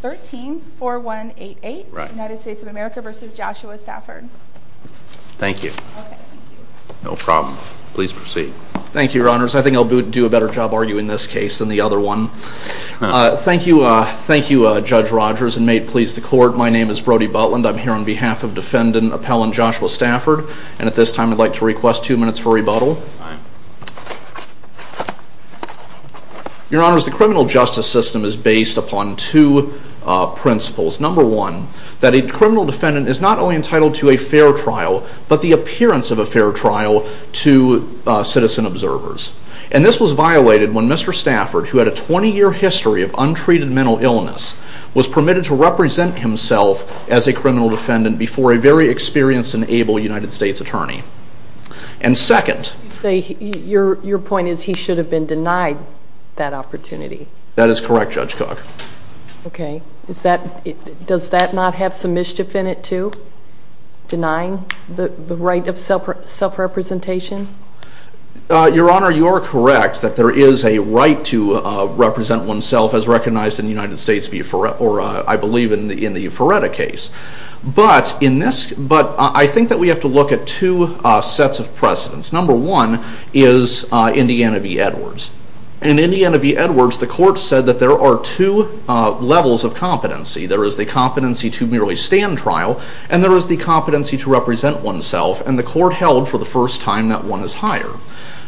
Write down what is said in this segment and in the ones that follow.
13-4188 United States of America v. Joshua Stafford Thank you. No problem. Please proceed. Thank you, your honors. I think I'll do a better job arguing this case than the other one. Thank you, Judge Rogers, and may it please the court, my name is Brody Butland, I'm here on behalf of defendant appellant Joshua Stafford, and at this time I'd like to request two minutes for rebuttal. Your honors, the criminal justice system is based upon two principles. Number one, that a criminal defendant is not only entitled to a fair trial, but the appearance of a fair trial to citizen observers. And this was violated when Mr. Stafford, who had a 20-year history of untreated mental illness, was permitted to represent himself as a criminal defendant before a very experienced and able United States attorney. And second... Your point is he should have been denied that opportunity. That is correct, Judge Cogg. Okay. Does that not have some mischief in it, too? Denying the right of self-representation? Your honor, you are correct that there is a right to represent oneself as recognized in the United States I believe in the Euphoretta case. But I think that we have to look at two sets of precedents. Number one is Indiana v. Edwards. In Indiana v. Edwards, the court said that there are two levels of competency. There is the competency to merely stand trial, and there is the competency to represent oneself, and the court held for the first time that one is higher.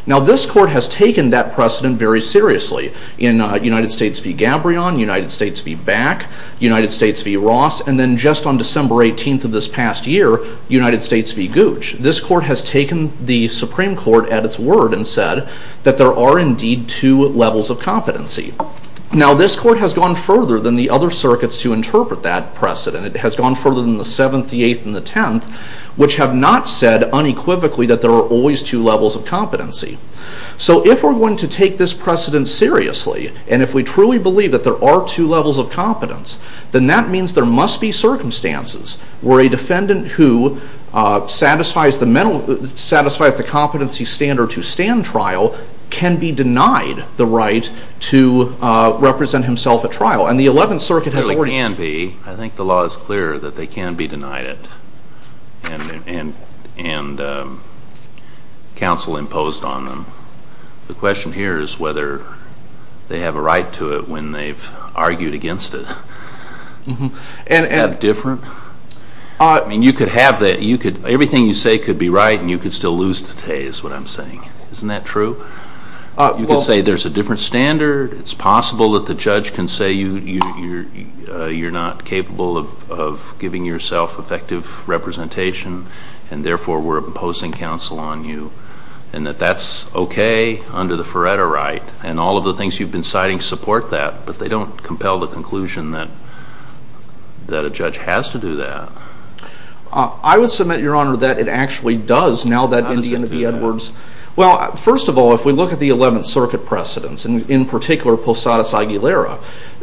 Now this court has taken that precedent very seriously. In United States v. Gabrion, United States v. Back, United States v. Ross, and then just on December 18th of this past year, United States v. Gooch. This court has taken the Supreme Court at its word and said that there are indeed two levels of competency. Now this court has gone further than the other circuits to interpret that precedent. It has gone further than the 7th, the 8th, and the 10th, which have not said unequivocally that there are always two levels of competency. So if we're going to take this precedent seriously, and if we truly believe that there are two levels of competence, then that means there must be circumstances where a defendant who satisfies the competency standard to stand trial can be denied the right to represent himself at trial. And the 11th Circuit has already... I think the law is clear that they can be denied it and counsel imposed on them. The question here is whether they have a right to it when they've argued against it. Is that different? I mean, you could have that. Everything you say could be right and you could still lose today is what I'm saying. Isn't that true? You could say there's a different standard. It's possible that the judge can say you're not capable of giving yourself effective representation and therefore we're imposing counsel on you, and that that's okay under the Feretta right. And all of the things you've been citing support that, but they don't compel the conclusion that a judge has to do that. I would submit, Your Honor, that it actually does now that Indiana v. Edwards... How does it do that? Well, first of all, if we look at the 11th Circuit precedents, and in particular Posadas-Aguilera,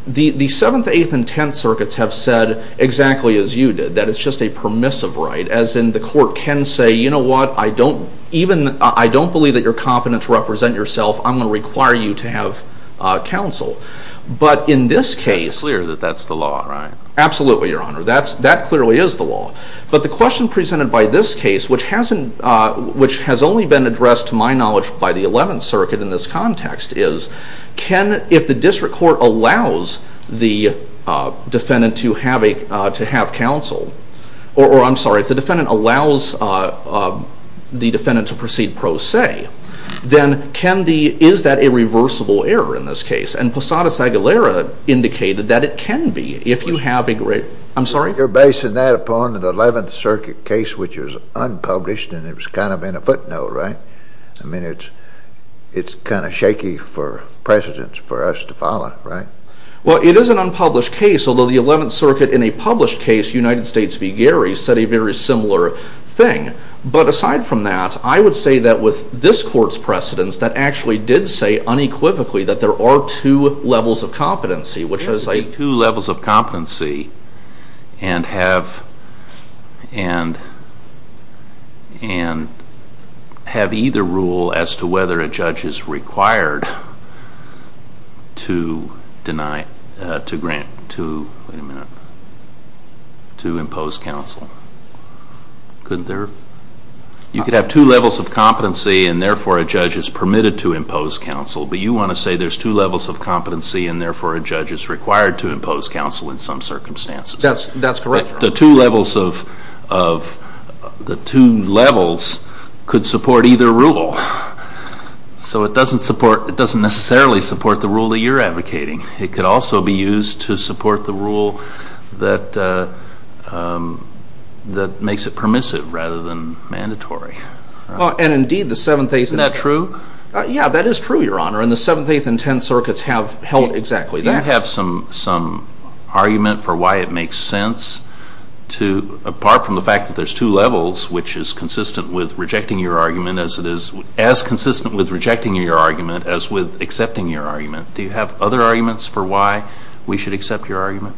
the 7th, 8th, and 10th Circuits have said exactly as you did, that it's just a permissive right, as in the court can say, you know what, I don't believe that you're competent to represent yourself. I'm going to require you to have counsel. But in this case... It's clear that that's the law, right? Absolutely, Your Honor. That clearly is the law. But the question presented by this case, which has only been addressed to my knowledge by the 11th Circuit in this context, is if the district court allows the defendant to have counsel, or I'm sorry, if the defendant allows the defendant to proceed pro se, then is that a reversible error in this case? And Posadas-Aguilera indicated that it can be if you have a... I'm sorry? You're basing that upon the 11th Circuit case, which was unpublished and it was kind of in a footnote, right? I mean, it's kind of shaky for precedents for us to follow, right? Well, it is an unpublished case, although the 11th Circuit in a published case, United States v. Gary, said a very similar thing. But aside from that, I would say that with this court's precedents, that actually did say unequivocally that there are two levels of competency, which is like two levels of competency and have either rule as to whether a judge is required to deny, to grant, to impose counsel. You could have two levels of competency and therefore a judge is permitted to impose counsel, and therefore a judge is required to impose counsel in some circumstances. That's correct. The two levels could support either rule. So it doesn't necessarily support the rule that you're advocating. It could also be used to support the rule that makes it permissive rather than mandatory. Yeah, that is true, Your Honor. And the 7th, 8th, and 10th Circuits have held exactly that. Do you have some argument for why it makes sense, apart from the fact that there's two levels, which is as consistent with rejecting your argument as with accepting your argument? Do you have other arguments for why we should accept your argument?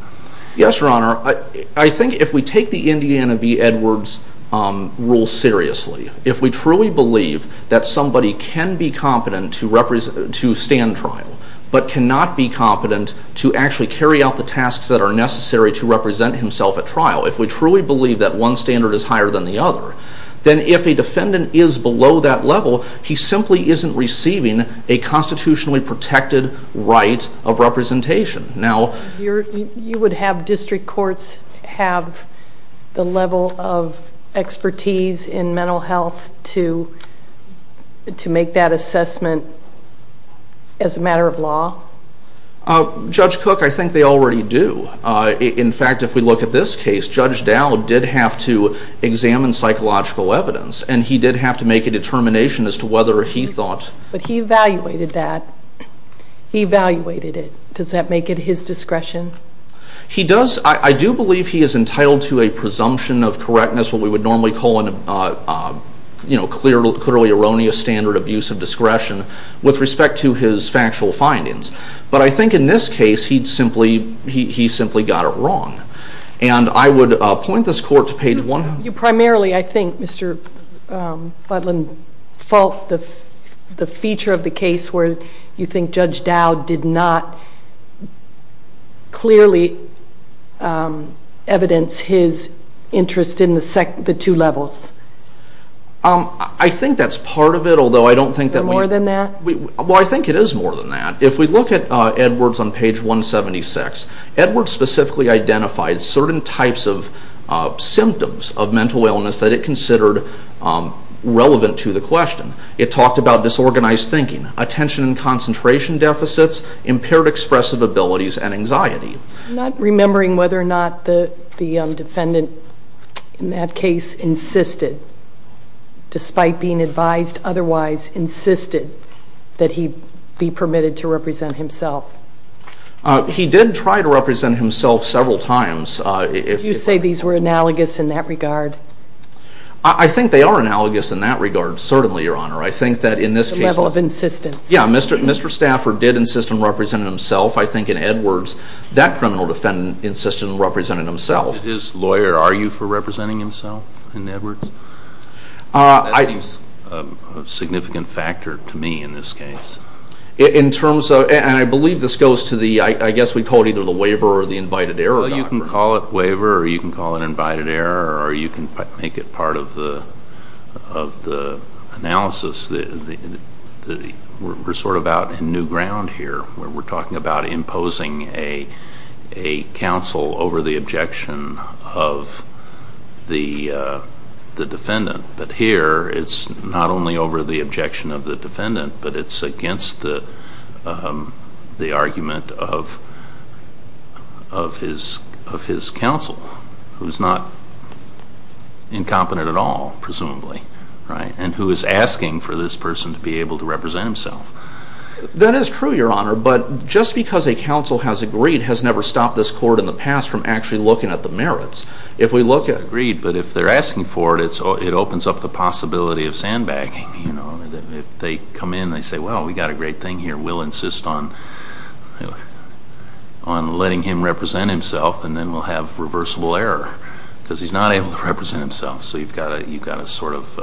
Yes, Your Honor. I think if we take the Indiana v. Edwards rule seriously, if we truly believe that somebody can be competent to stand trial but cannot be competent to actually carry out the tasks that are necessary to represent himself at trial, if we truly believe that one standard is higher than the other, then if a defendant is below that level, he simply isn't receiving a constitutionally protected right of representation. You would have district courts have the level of expertise in mental health to make that assessment as a matter of law? Judge Cook, I think they already do. In fact, if we look at this case, Judge Dow did have to examine psychological evidence, and he did have to make a determination as to whether he thought... But he evaluated that. He evaluated it. Does that make it his discretion? He does. I do believe he is entitled to a presumption of correctness, what we would normally call a clearly erroneous standard of use of discretion, with respect to his factual findings. But I think in this case, he simply got it wrong. And I would point this court to page 100. Primarily, I think, Mr. Butler, the feature of the case where you think Judge Dow did not clearly evidence his interest in the two levels. I think that's part of it, although I don't think that we... Is there more than that? Well, I think it is more than that. If we look at Edwards on page 176, Edwards specifically identified certain types of symptoms of mental illness that it considered relevant to the question. It talked about disorganized thinking, attention and concentration deficits, impaired expressive abilities, and anxiety. I'm not remembering whether or not the defendant in that case insisted, despite being advised otherwise, insisted that he be permitted to represent himself. He did try to represent himself several times. You say these were analogous in that regard? I think they are analogous in that regard, certainly, Your Honor. I think that in this case... The level of insistence. Yeah, Mr. Stafford did insist on representing himself. I think in Edwards, that criminal defendant insisted on representing himself. As his lawyer, are you for representing himself in Edwards? That seems a significant factor to me in this case. In terms of, and I believe this goes to the, I guess we call it either the waiver or the invited error doctrine. Well, you can call it waiver or you can call it invited error or you can make it part of the analysis. We're sort of out in new ground here, where we're talking about imposing a counsel over the objection of the defendant. But here, it's not only over the objection of the defendant, but it's against the argument of his counsel, who's not incompetent at all, presumably, right? And who is asking for this person to be able to represent himself. That is true, Your Honor, but just because a counsel has agreed has never stopped this court in the past from actually looking at the merits. If we look at... Agreed, but if they're asking for it, it opens up the possibility of sandbagging. If they come in, they say, well, we've got a great thing here. We'll insist on letting him represent himself and then we'll have reversible error because he's not able to represent himself. So you've got a sort of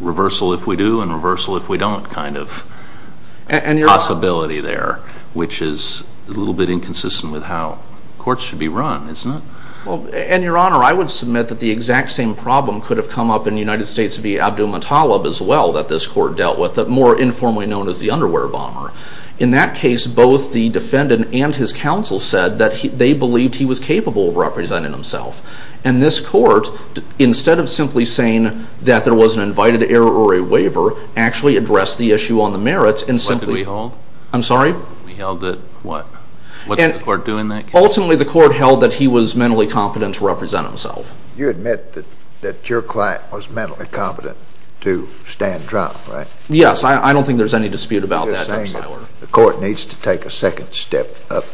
reversal if we do and reversal if we don't kind of possibility there, which is a little bit inconsistent with how courts should be run, isn't it? Well, and Your Honor, I would submit that the exact same problem could have come up in the United States via Abdulmutallab as well that this court dealt with, more informally known as the underwear bomber. In that case, both the defendant and his counsel said that they believed he was capable of representing himself. And this court, instead of simply saying that there was an invited error or a waiver, actually addressed the issue on the merits and simply... What did we hold? I'm sorry? We held that what? What did the court do in that case? Ultimately, the court held that he was mentally competent to represent himself. You admit that your client was mentally competent to stand trial, right? Yes. I don't think there's any dispute about that, Your Honor. You're saying that the court needs to take a second step up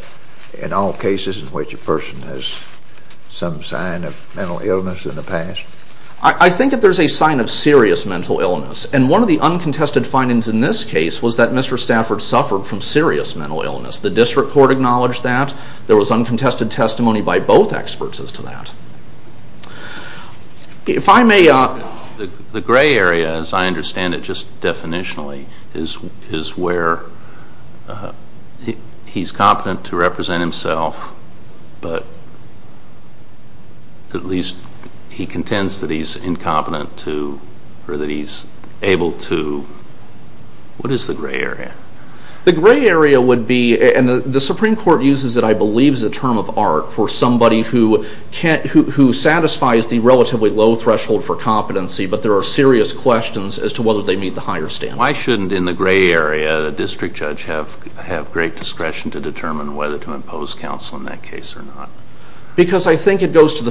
in all cases in which a person has some sign of mental illness in the past? I think that there's a sign of serious mental illness. And one of the uncontested findings in this case was that Mr. Stafford suffered from serious mental illness. The district court acknowledged that. There was uncontested testimony by both experts as to that. If I may... The gray area, as I understand it just definitionally, is where he's competent to represent himself, but at least he contends that he's incompetent to or that he's able to... What is the gray area? The gray area would be, and the Supreme Court uses it, I believe, as a term of art for somebody who satisfies the relatively low threshold for competency, but there are serious questions as to whether they meet the higher standard. Why shouldn't, in the gray area, a district judge have great discretion to determine whether to impose counsel in that case or not? Because I think it goes to fundamental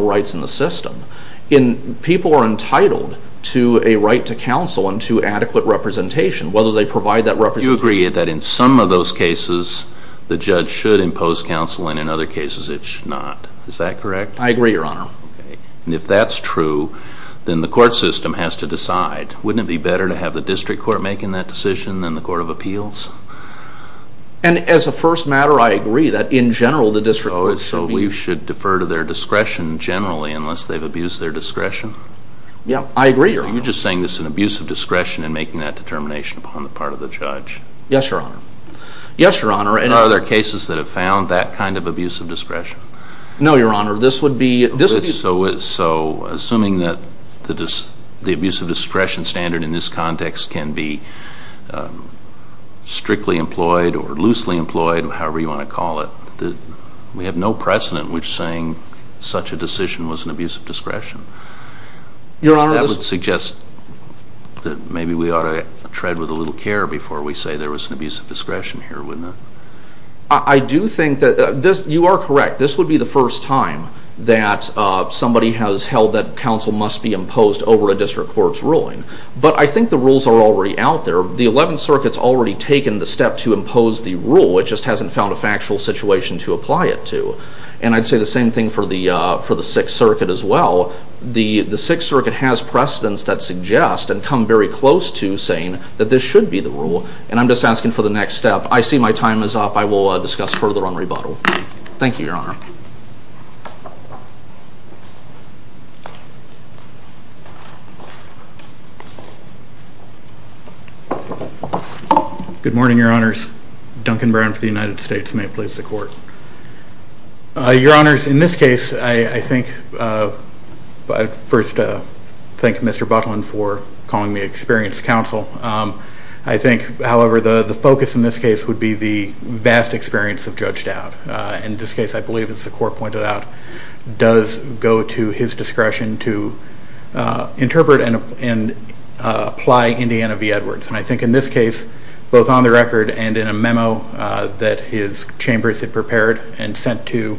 rights in the system. People are entitled to a right to counsel and to adequate representation, whether they provide that representation. Do you agree that in some of those cases the judge should impose counsel and in other cases it should not? Is that correct? I agree, Your Honor. And if that's true, then the court system has to decide. Wouldn't it be better to have the district court making that decision than the court of appeals? And as a first matter, I agree that in general the district court should be... Yeah, I agree, Your Honor. Are you just saying this is an abuse of discretion in making that determination upon the part of the judge? Yes, Your Honor. Yes, Your Honor. And are there cases that have found that kind of abuse of discretion? No, Your Honor. This would be... So assuming that the abuse of discretion standard in this context can be strictly employed or loosely employed, however you want to call it, we have no precedent which saying such a decision was an abuse of discretion. Your Honor... That would suggest that maybe we ought to tread with a little care before we say there was an abuse of discretion here, wouldn't it? I do think that you are correct. This would be the first time that somebody has held that counsel must be imposed over a district court's ruling. But I think the rules are already out there. The Eleventh Circuit's already taken the step to impose the rule. It just hasn't found a factual situation to apply it to. And I'd say the same thing for the Sixth Circuit as well. The Sixth Circuit has precedents that suggest and come very close to saying that this should be the rule. And I'm just asking for the next step. I see my time is up. I will discuss further on rebuttal. Thank you, Your Honor. Good morning, Your Honors. Duncan Brown for the United States. May it please the Court. Your Honors, in this case, I think... I'd first thank Mr. Butlin for calling me Experienced Counsel. I think, however, the focus in this case would be the vast experience of Judge Dowd. is the most experienced judge in the United States. I think, as the Court pointed out, does go to his discretion to interpret and apply Indiana v. Edwards. And I think in this case, both on the record and in a memo that his chambers had prepared and sent to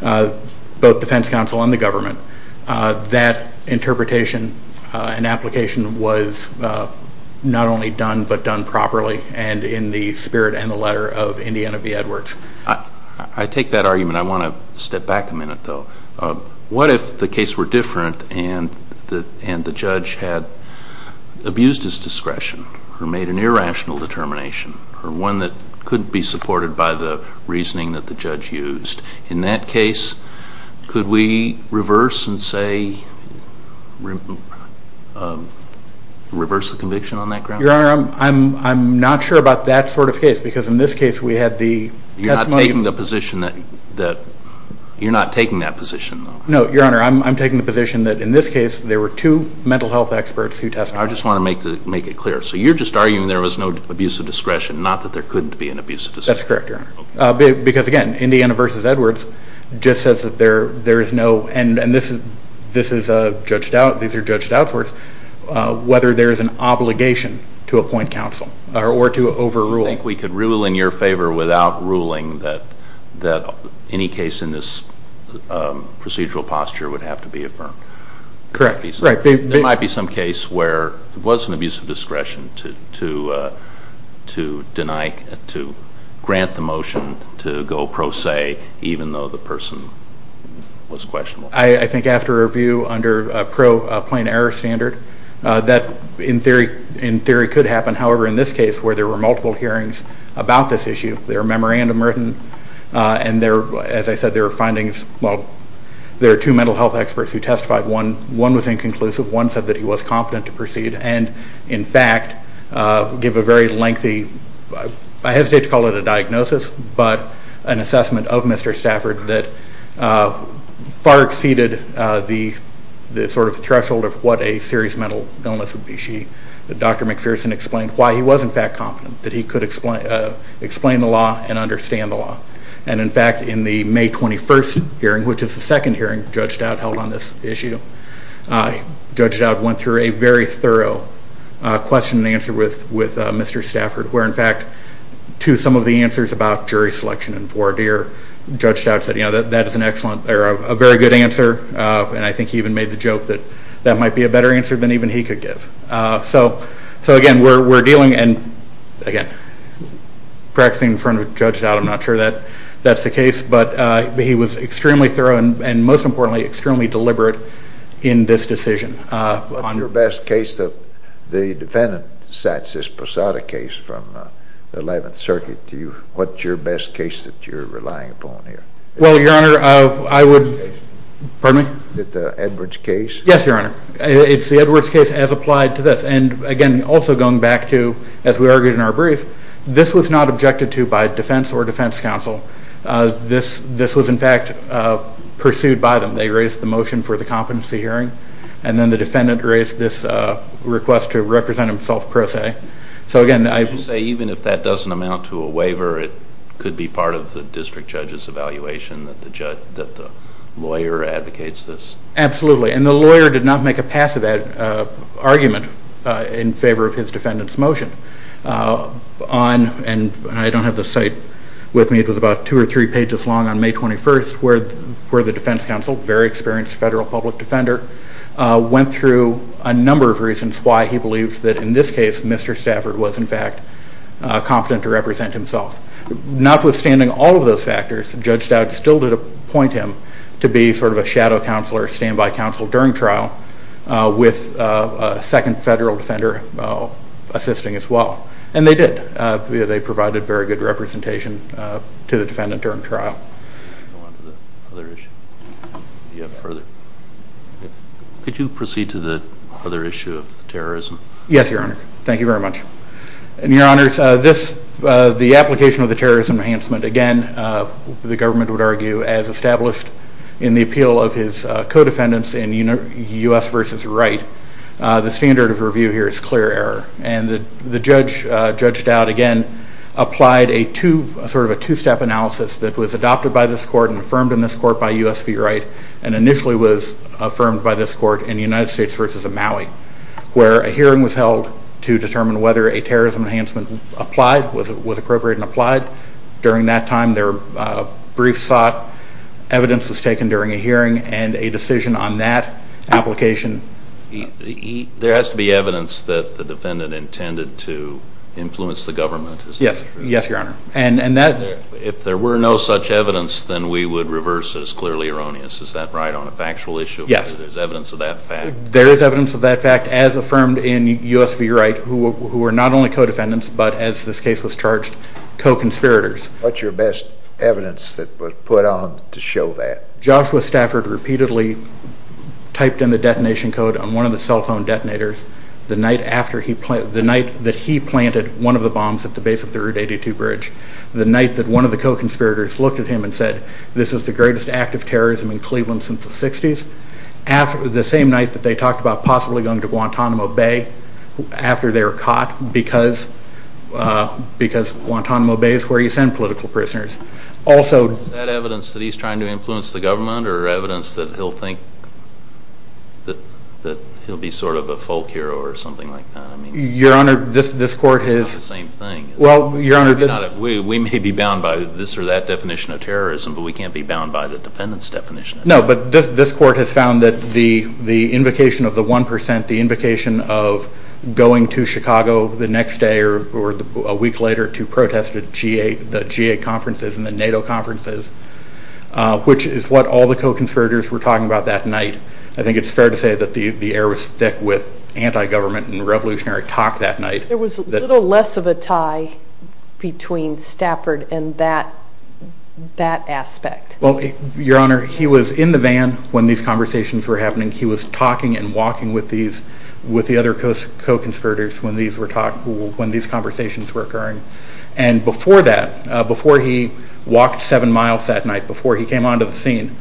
both defense counsel and the government, that interpretation and application was not only done, but done properly and in the spirit and the letter of Indiana v. Edwards. I take that argument. I want to step back a minute, though. What if the case were different and the judge had abused his discretion or made an irrational determination or one that couldn't be supported by the reasoning that the judge used? In that case, could we reverse and say... reverse the conviction on that ground? Your Honor, I'm not sure about that sort of case because in this case we had the testimony... You're not taking that position, though? No, Your Honor, I'm taking the position that in this case there were two mental health experts who testified. I just want to make it clear. So you're just arguing there was no abuse of discretion, not that there couldn't be an abuse of discretion? That's correct, Your Honor. Because, again, Indiana v. Edwards just says that there is no... and these are Judge Dowd's words... whether there is an obligation to appoint counsel or to overrule. So you think we could rule in your favor without ruling that any case in this procedural posture would have to be affirmed? Correct. There might be some case where there was an abuse of discretion to grant the motion to go pro se even though the person was questionable. I think after review under a pro plain error standard, that in theory could happen. However, in this case where there were multiple hearings about this issue, there are memorandum written and, as I said, there are findings. Well, there are two mental health experts who testified. One was inconclusive. One said that he was confident to proceed and, in fact, give a very lengthy... I hesitate to call it a diagnosis, but an assessment of Mr. Stafford that far exceeded the sort of threshold of what a serious mental illness would be. Dr. McPherson explained why he was, in fact, confident that he could explain the law and understand the law. And, in fact, in the May 21st hearing, which is the second hearing Judge Dowd held on this issue, Judge Dowd went through a very thorough question and answer with Mr. Stafford where, in fact, to some of the answers about jury selection and voir dire, Judge Dowd said, you know, that is a very good answer and I think he even made the joke that that might be a better answer than even he could give. So, again, we're dealing and, again, practicing in front of Judge Dowd. I'm not sure that that's the case, but he was extremely thorough and, most importantly, extremely deliberate in this decision. What's your best case that the defendant sets, this Posada case from the 11th Circuit? What's your best case that you're relying upon here? Well, Your Honor, I would... Pardon me? Is it the Edwards case? Yes, Your Honor. It's the Edwards case as applied to this. And, again, also going back to, as we argued in our brief, this was not objected to by defense or defense counsel. This was, in fact, pursued by them. They raised the motion for the competency hearing and then the defendant raised this request to represent himself per se. So, again, I... You say even if that doesn't amount to a waiver, it could be part of the district judge's evaluation that the lawyer advocates this? Absolutely. And the lawyer did not make a passive argument in favor of his defendant's motion. And I don't have the site with me. It was about two or three pages long on May 21st where the defense counsel, a very experienced federal public defender, went through a number of reasons why he believed that, in this case, Mr. Stafford was, in fact, competent to represent himself. Notwithstanding all of those factors, Judge Stout still did appoint him to be sort of a shadow counselor, standby counsel during trial, with a second federal defender assisting as well. And they did. They provided very good representation to the defendant during trial. Go on to the other issue. Do you have further? Could you proceed to the other issue of terrorism? Yes, Your Honor. Thank you very much. And, Your Honors, the application of the terrorism enhancement, again, the government would argue, as established in the appeal of his co-defendants in U.S. v. Wright, the standard of review here is clear error. And the judge, Judge Stout, again, applied sort of a two-step analysis that was adopted by this court and affirmed in this court by U.S. v. Wright and initially was affirmed by this court in the United States v. Maui where a hearing was held to determine whether a terrorism enhancement applied, was appropriate and applied. During that time, there were briefs sought, evidence was taken during a hearing, and a decision on that application. There has to be evidence that the defendant intended to influence the government, is that true? Yes, Your Honor. If there were no such evidence, then we would reverse it. It's clearly erroneous. Is that right on a factual issue? Yes. There's evidence of that fact? There is evidence of that fact as affirmed in U.S. v. Wright who were not only co-defendants but, as this case was charged, co-conspirators. What's your best evidence that was put on to show that? Joshua Stafford repeatedly typed in the detonation code on one of the cell phone detonators the night that he planted one of the bombs at the base of the Route 82 bridge, the night that one of the co-conspirators looked at him and said, this is the greatest act of terrorism in Cleveland since the 60s, the same night that they talked about possibly going to Guantanamo Bay after they were caught because Guantanamo Bay is where you send political prisoners. Is that evidence that he's trying to influence the government or evidence that he'll be sort of a folk hero or something like that? Your Honor, this court has... It's not the same thing. We may be bound by this or that definition of terrorism, but we can't be bound by the defendant's definition. No, but this court has found that the invocation of the 1%, the invocation of going to Chicago the next day or a week later to protest at the G8 conferences and the NATO conferences, which is what all the co-conspirators were talking about that night. I think it's fair to say that the air was thick with anti-government and revolutionary talk that night. There was a little less of a tie between Stafford and that aspect. Well, Your Honor, he was in the van when these conversations were happening. He was talking and walking with the other co-conspirators when these conversations were occurring. And before that, before he walked seven miles that night, before he came onto the scene,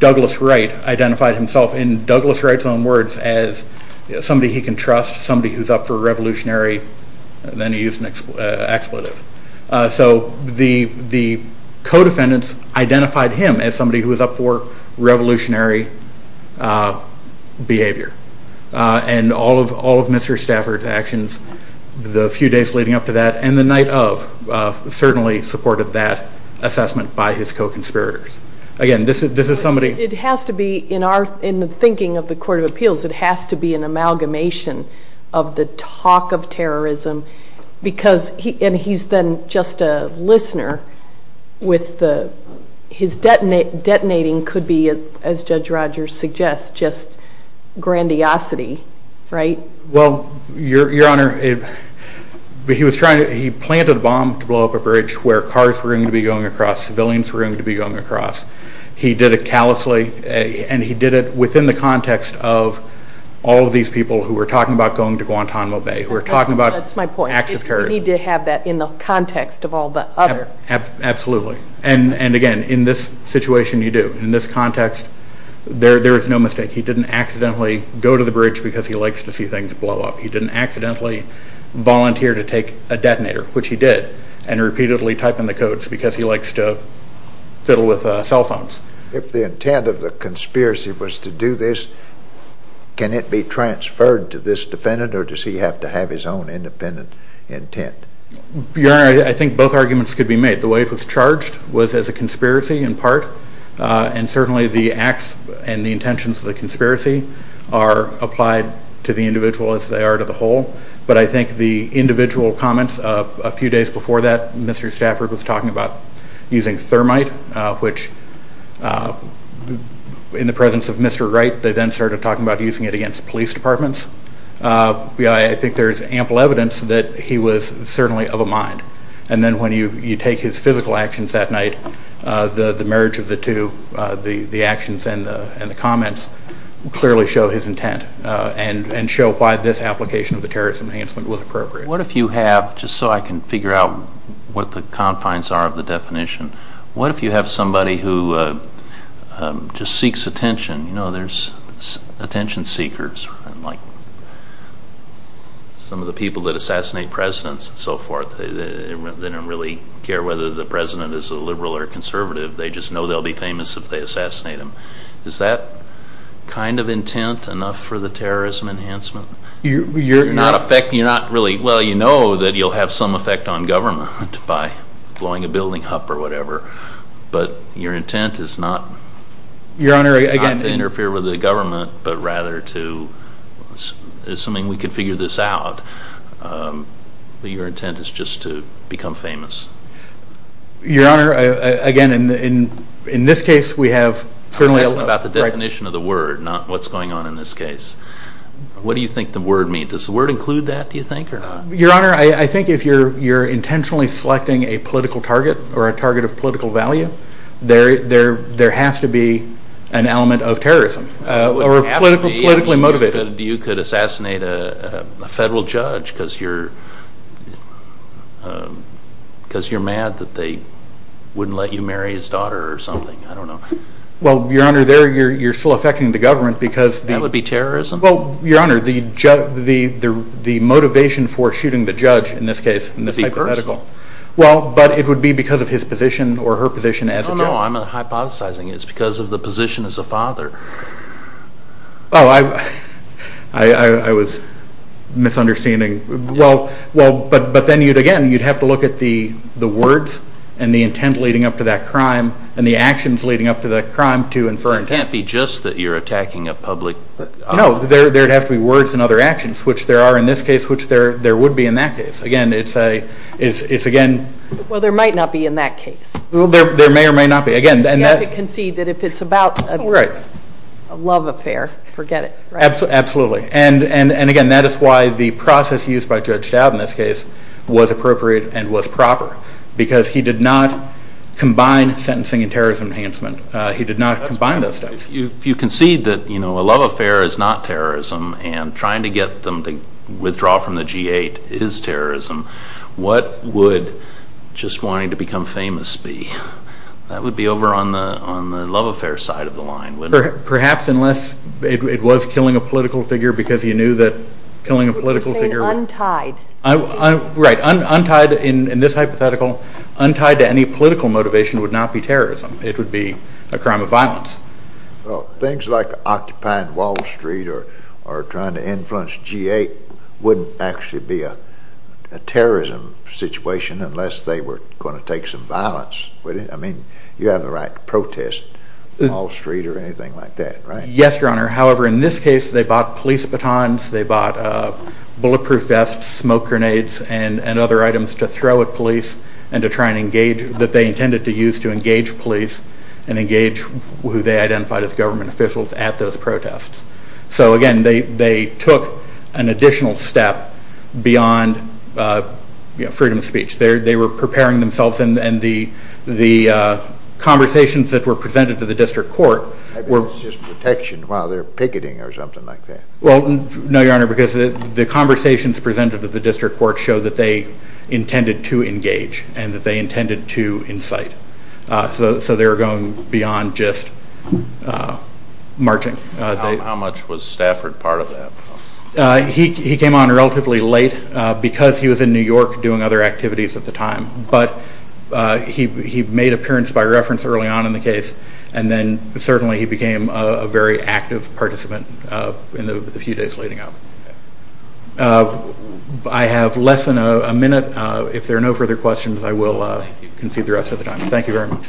Douglas Wright identified himself in Douglas Wright's own words as somebody he can trust, somebody who's up for revolutionary. Then he used an expletive. So the co-defendants identified him as somebody who was up for revolutionary behavior. And all of Mr. Stafford's actions the few days leading up to that and the night of certainly supported that assessment by his co-conspirators. Again, this is somebody... It has to be, in the thinking of the Court of Appeals, it has to be an amalgamation of the talk of terrorism and he's then just a listener with his detonating could be, as Judge Rogers suggests, just grandiosity, right? Well, Your Honor, he planted a bomb to blow up a bridge where cars were going to be going across, civilians were going to be going across. He did it callously and he did it within the context of all of these people who were talking about going to Guantanamo Bay, who were talking about acts of terrorism. That's my point. You need to have that in the context of all the other... Absolutely. And again, in this situation you do. In this context, there is no mistake. He didn't accidentally go to the bridge because he likes to see things blow up. which he did, and repeatedly type in the codes because he likes to fiddle with cell phones. If the intent of the conspiracy was to do this, can it be transferred to this defendant or does he have to have his own independent intent? Your Honor, I think both arguments could be made. The way it was charged was as a conspiracy in part and certainly the acts and the intentions of the conspiracy are applied to the individual as they are to the whole, but I think the individual comments, a few days before that, Mr. Stafford was talking about using thermite, which in the presence of Mr. Wright, they then started talking about using it against police departments. I think there is ample evidence that he was certainly of a mind. And then when you take his physical actions that night, the marriage of the two, the actions and the comments, clearly show his intent and show why this application of the terrorism enhancement was appropriate. What if you have, just so I can figure out what the confines are of the definition, what if you have somebody who just seeks attention, you know there's attention seekers, like some of the people that assassinate presidents and so forth, they don't really care whether the president is a liberal or conservative, they just know they'll be famous if they assassinate him. Is that kind of intent enough for the terrorism enhancement? You're not really, well you know that you'll have some effect on government by blowing a building up or whatever, but your intent is not to interfere with the government, but rather to, assuming we can figure this out, your intent is just to become famous. Your Honor, again, in this case we have... I'm asking about the definition of the word, not what's going on in this case. What do you think the word means? Does the word include that, do you think, or not? Your Honor, I think if you're intentionally selecting a political target or a target of political value, there has to be an element of terrorism or politically motivated. What would happen if you could assassinate a federal judge because you're mad that they wouldn't let you marry his daughter or something? I don't know. Well, Your Honor, you're still affecting the government because... Well, Your Honor, the motivation for shooting the judge in this case, in this hypothetical... It would be personal. Well, but it would be because of his position or her position as a judge. No, no, I'm hypothesizing it's because of the position as a father. Oh, I was misunderstanding. Well, but then again you'd have to look at the words and the intent leading up to that crime and the actions leading up to that crime to infer intent. It can't be just that you're attacking a public... No, there would have to be words and other actions, which there are in this case, which there would be in that case. Again, it's again... Well, there might not be in that case. There may or may not be. You have to concede that if it's about a love affair, forget it. Absolutely. And again, that is why the process used by Judge Dowd in this case was appropriate and was proper because he did not combine sentencing and terrorism enhancement. He did not combine those two. If you concede that a love affair is not terrorism and trying to get them to withdraw from the G8 is terrorism, what would just wanting to become famous be? That would be over on the love affair side of the line, wouldn't it? Perhaps unless it was killing a political figure because you knew that killing a political figure... You're saying untied. Right, untied in this hypothetical. Untied to any political motivation would not be terrorism. It would be a crime of violence. Well, things like occupying Wall Street or trying to influence G8 wouldn't actually be a terrorism situation unless they were going to take some violence, would it? I mean, you have the right to protest Wall Street or anything like that, right? Yes, Your Honor. However, in this case, they bought police batons. They bought bulletproof vests, smoke grenades, and other items to throw at police that they intended to use to engage police and engage who they identified as government officials at those protests. So, again, they took an additional step beyond freedom of speech. They were preparing themselves, and the conversations that were presented to the district court were... I bet it's just protection while they're picketing or something like that. Well, no, Your Honor, because the conversations presented to the district court show that they intended to engage and that they intended to incite. So they were going beyond just marching. How much was Stafford part of that? He came on relatively late because he was in New York doing other activities at the time, but he made appearance by reference early on in the case, and then certainly he became a very active participant in the few days leading up. I have less than a minute. If there are no further questions, I will concede the rest of the time. Thank you very much.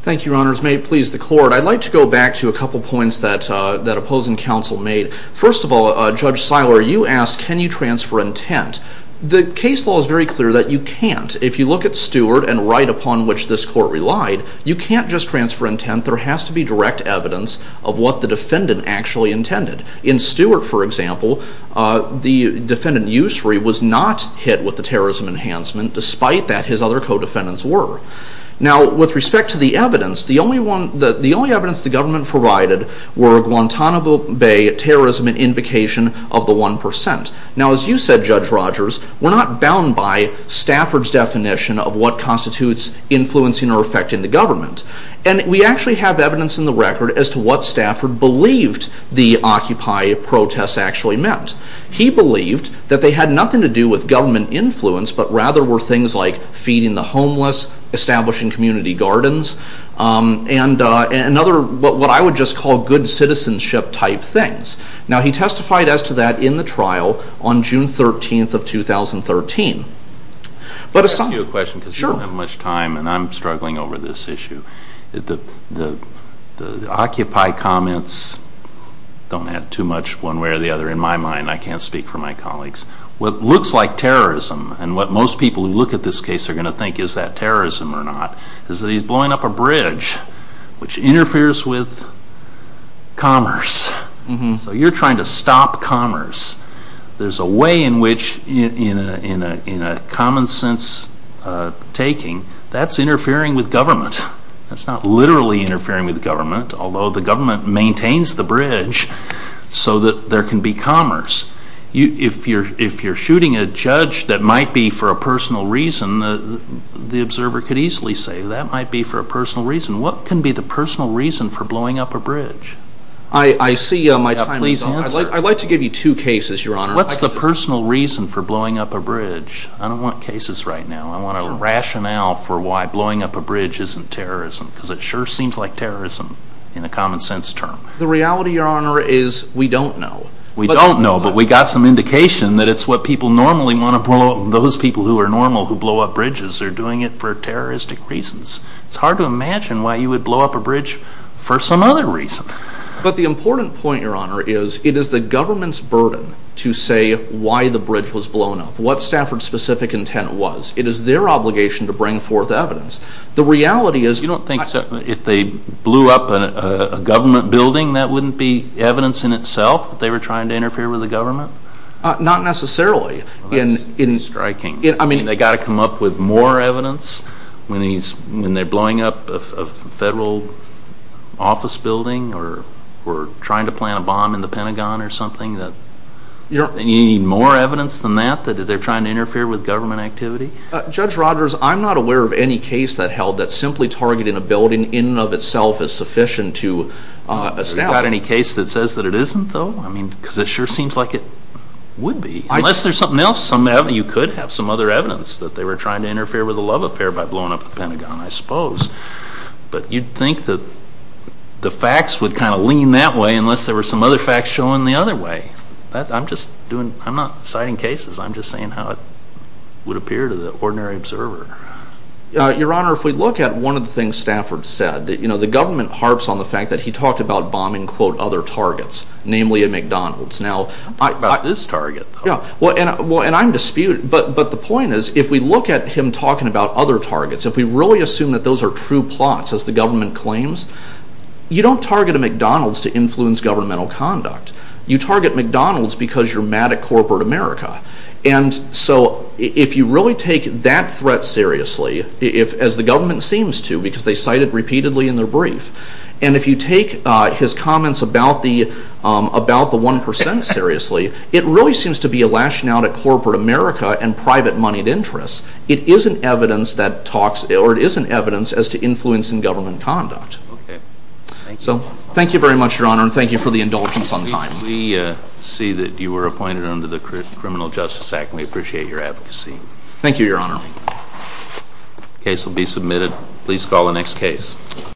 Thank you, Your Honors. May it please the Court, I'd like to go back to a couple points that opposing counsel made. First of all, Judge Seiler, you asked, can you transfer intent? The case law is very clear that you can't. If you look at Stewart and right upon which this court relied, you can't just transfer intent. There has to be direct evidence of what the defendant actually intended. In Stewart, for example, the defendant Ussery was not hit with the terrorism enhancement, despite that his other co-defendants were. Now, with respect to the evidence, the only evidence the government provided were Guantanamo Bay terrorism and invocation of the 1%. Now, as you said, Judge Rogers, we're not bound by Stafford's definition of what constitutes influencing or affecting the government, and we actually have evidence in the record as to what Stafford believed the Occupy protests actually meant. He believed that they had nothing to do with government influence, but rather were things like feeding the homeless, establishing community gardens, and what I would just call good citizenship-type things. Now, he testified as to that in the trial on June 13th of 2013. I'll ask you a question because you don't have much time, and I'm struggling over this issue. The Occupy comments don't add too much one way or the other. In my mind, I can't speak for my colleagues. What looks like terrorism, and what most people who look at this case are going to think is that terrorism or not, is that he's blowing up a bridge which interferes with commerce. So you're trying to stop commerce. There's a way in which, in a common-sense taking, that's interfering with government. That's not literally interfering with government, although the government maintains the bridge so that there can be commerce. If you're shooting a judge that might be for a personal reason, the observer could easily say, that might be for a personal reason. What can be the personal reason for blowing up a bridge? I see my time is up. I'd like to give you two cases, Your Honor. What's the personal reason for blowing up a bridge? I don't want cases right now. I want a rationale for why blowing up a bridge isn't terrorism because it sure seems like terrorism in a common-sense term. The reality, Your Honor, is we don't know. We don't know, but we got some indication that it's what people normally want to blow up, and those people who are normal who blow up bridges are doing it for terroristic reasons. It's hard to imagine why you would blow up a bridge for some other reason. But the important point, Your Honor, is it is the government's burden to say why the bridge was blown up, what Stafford's specific intent was. It is their obligation to bring forth evidence. The reality is... You don't think if they blew up a government building that wouldn't be evidence in itself that they were trying to interfere with the government? Not necessarily. That's striking. I mean, they got to come up with more evidence when they're blowing up a federal office building or trying to plant a bomb in the Pentagon or something? You need more evidence than that, that they're trying to interfere with government activity? Judge Rogers, I'm not aware of any case that held that simply targeting a building in and of itself is sufficient to establish... You got any case that says that it isn't, though? I mean, because it sure seems like it would be. Unless there's something else, you could have some other evidence that they were trying to interfere with the love affair by blowing up the Pentagon, I suppose. But you'd think that the facts would kind of lean that way unless there were some other facts showing the other way. I'm not citing cases. I'm just saying how it would appear to the ordinary observer. Your Honor, if we look at one of the things Stafford said, the government harps on the fact that he talked about bombing, quote, other targets, namely a McDonald's. I'm talking about this target, though. And I'm disputing... But the point is, if we look at him talking about other targets, if we really assume that those are true plots, as the government claims, you don't target a McDonald's to influence governmental conduct. You target McDonald's because you're mad at corporate America. And so if you really take that threat seriously, as the government seems to, because they cite it repeatedly in their brief, and if you take his comments about the 1% seriously, it really seems to be a lashing out at corporate America and private moneyed interests. It is an evidence that talks... Or it is an evidence as to influence in government conduct. So thank you very much, Your Honor, and thank you for the indulgence on time. We see that you were appointed under the Criminal Justice Act, Thank you, Your Honor. The case will be submitted. Please call the next case.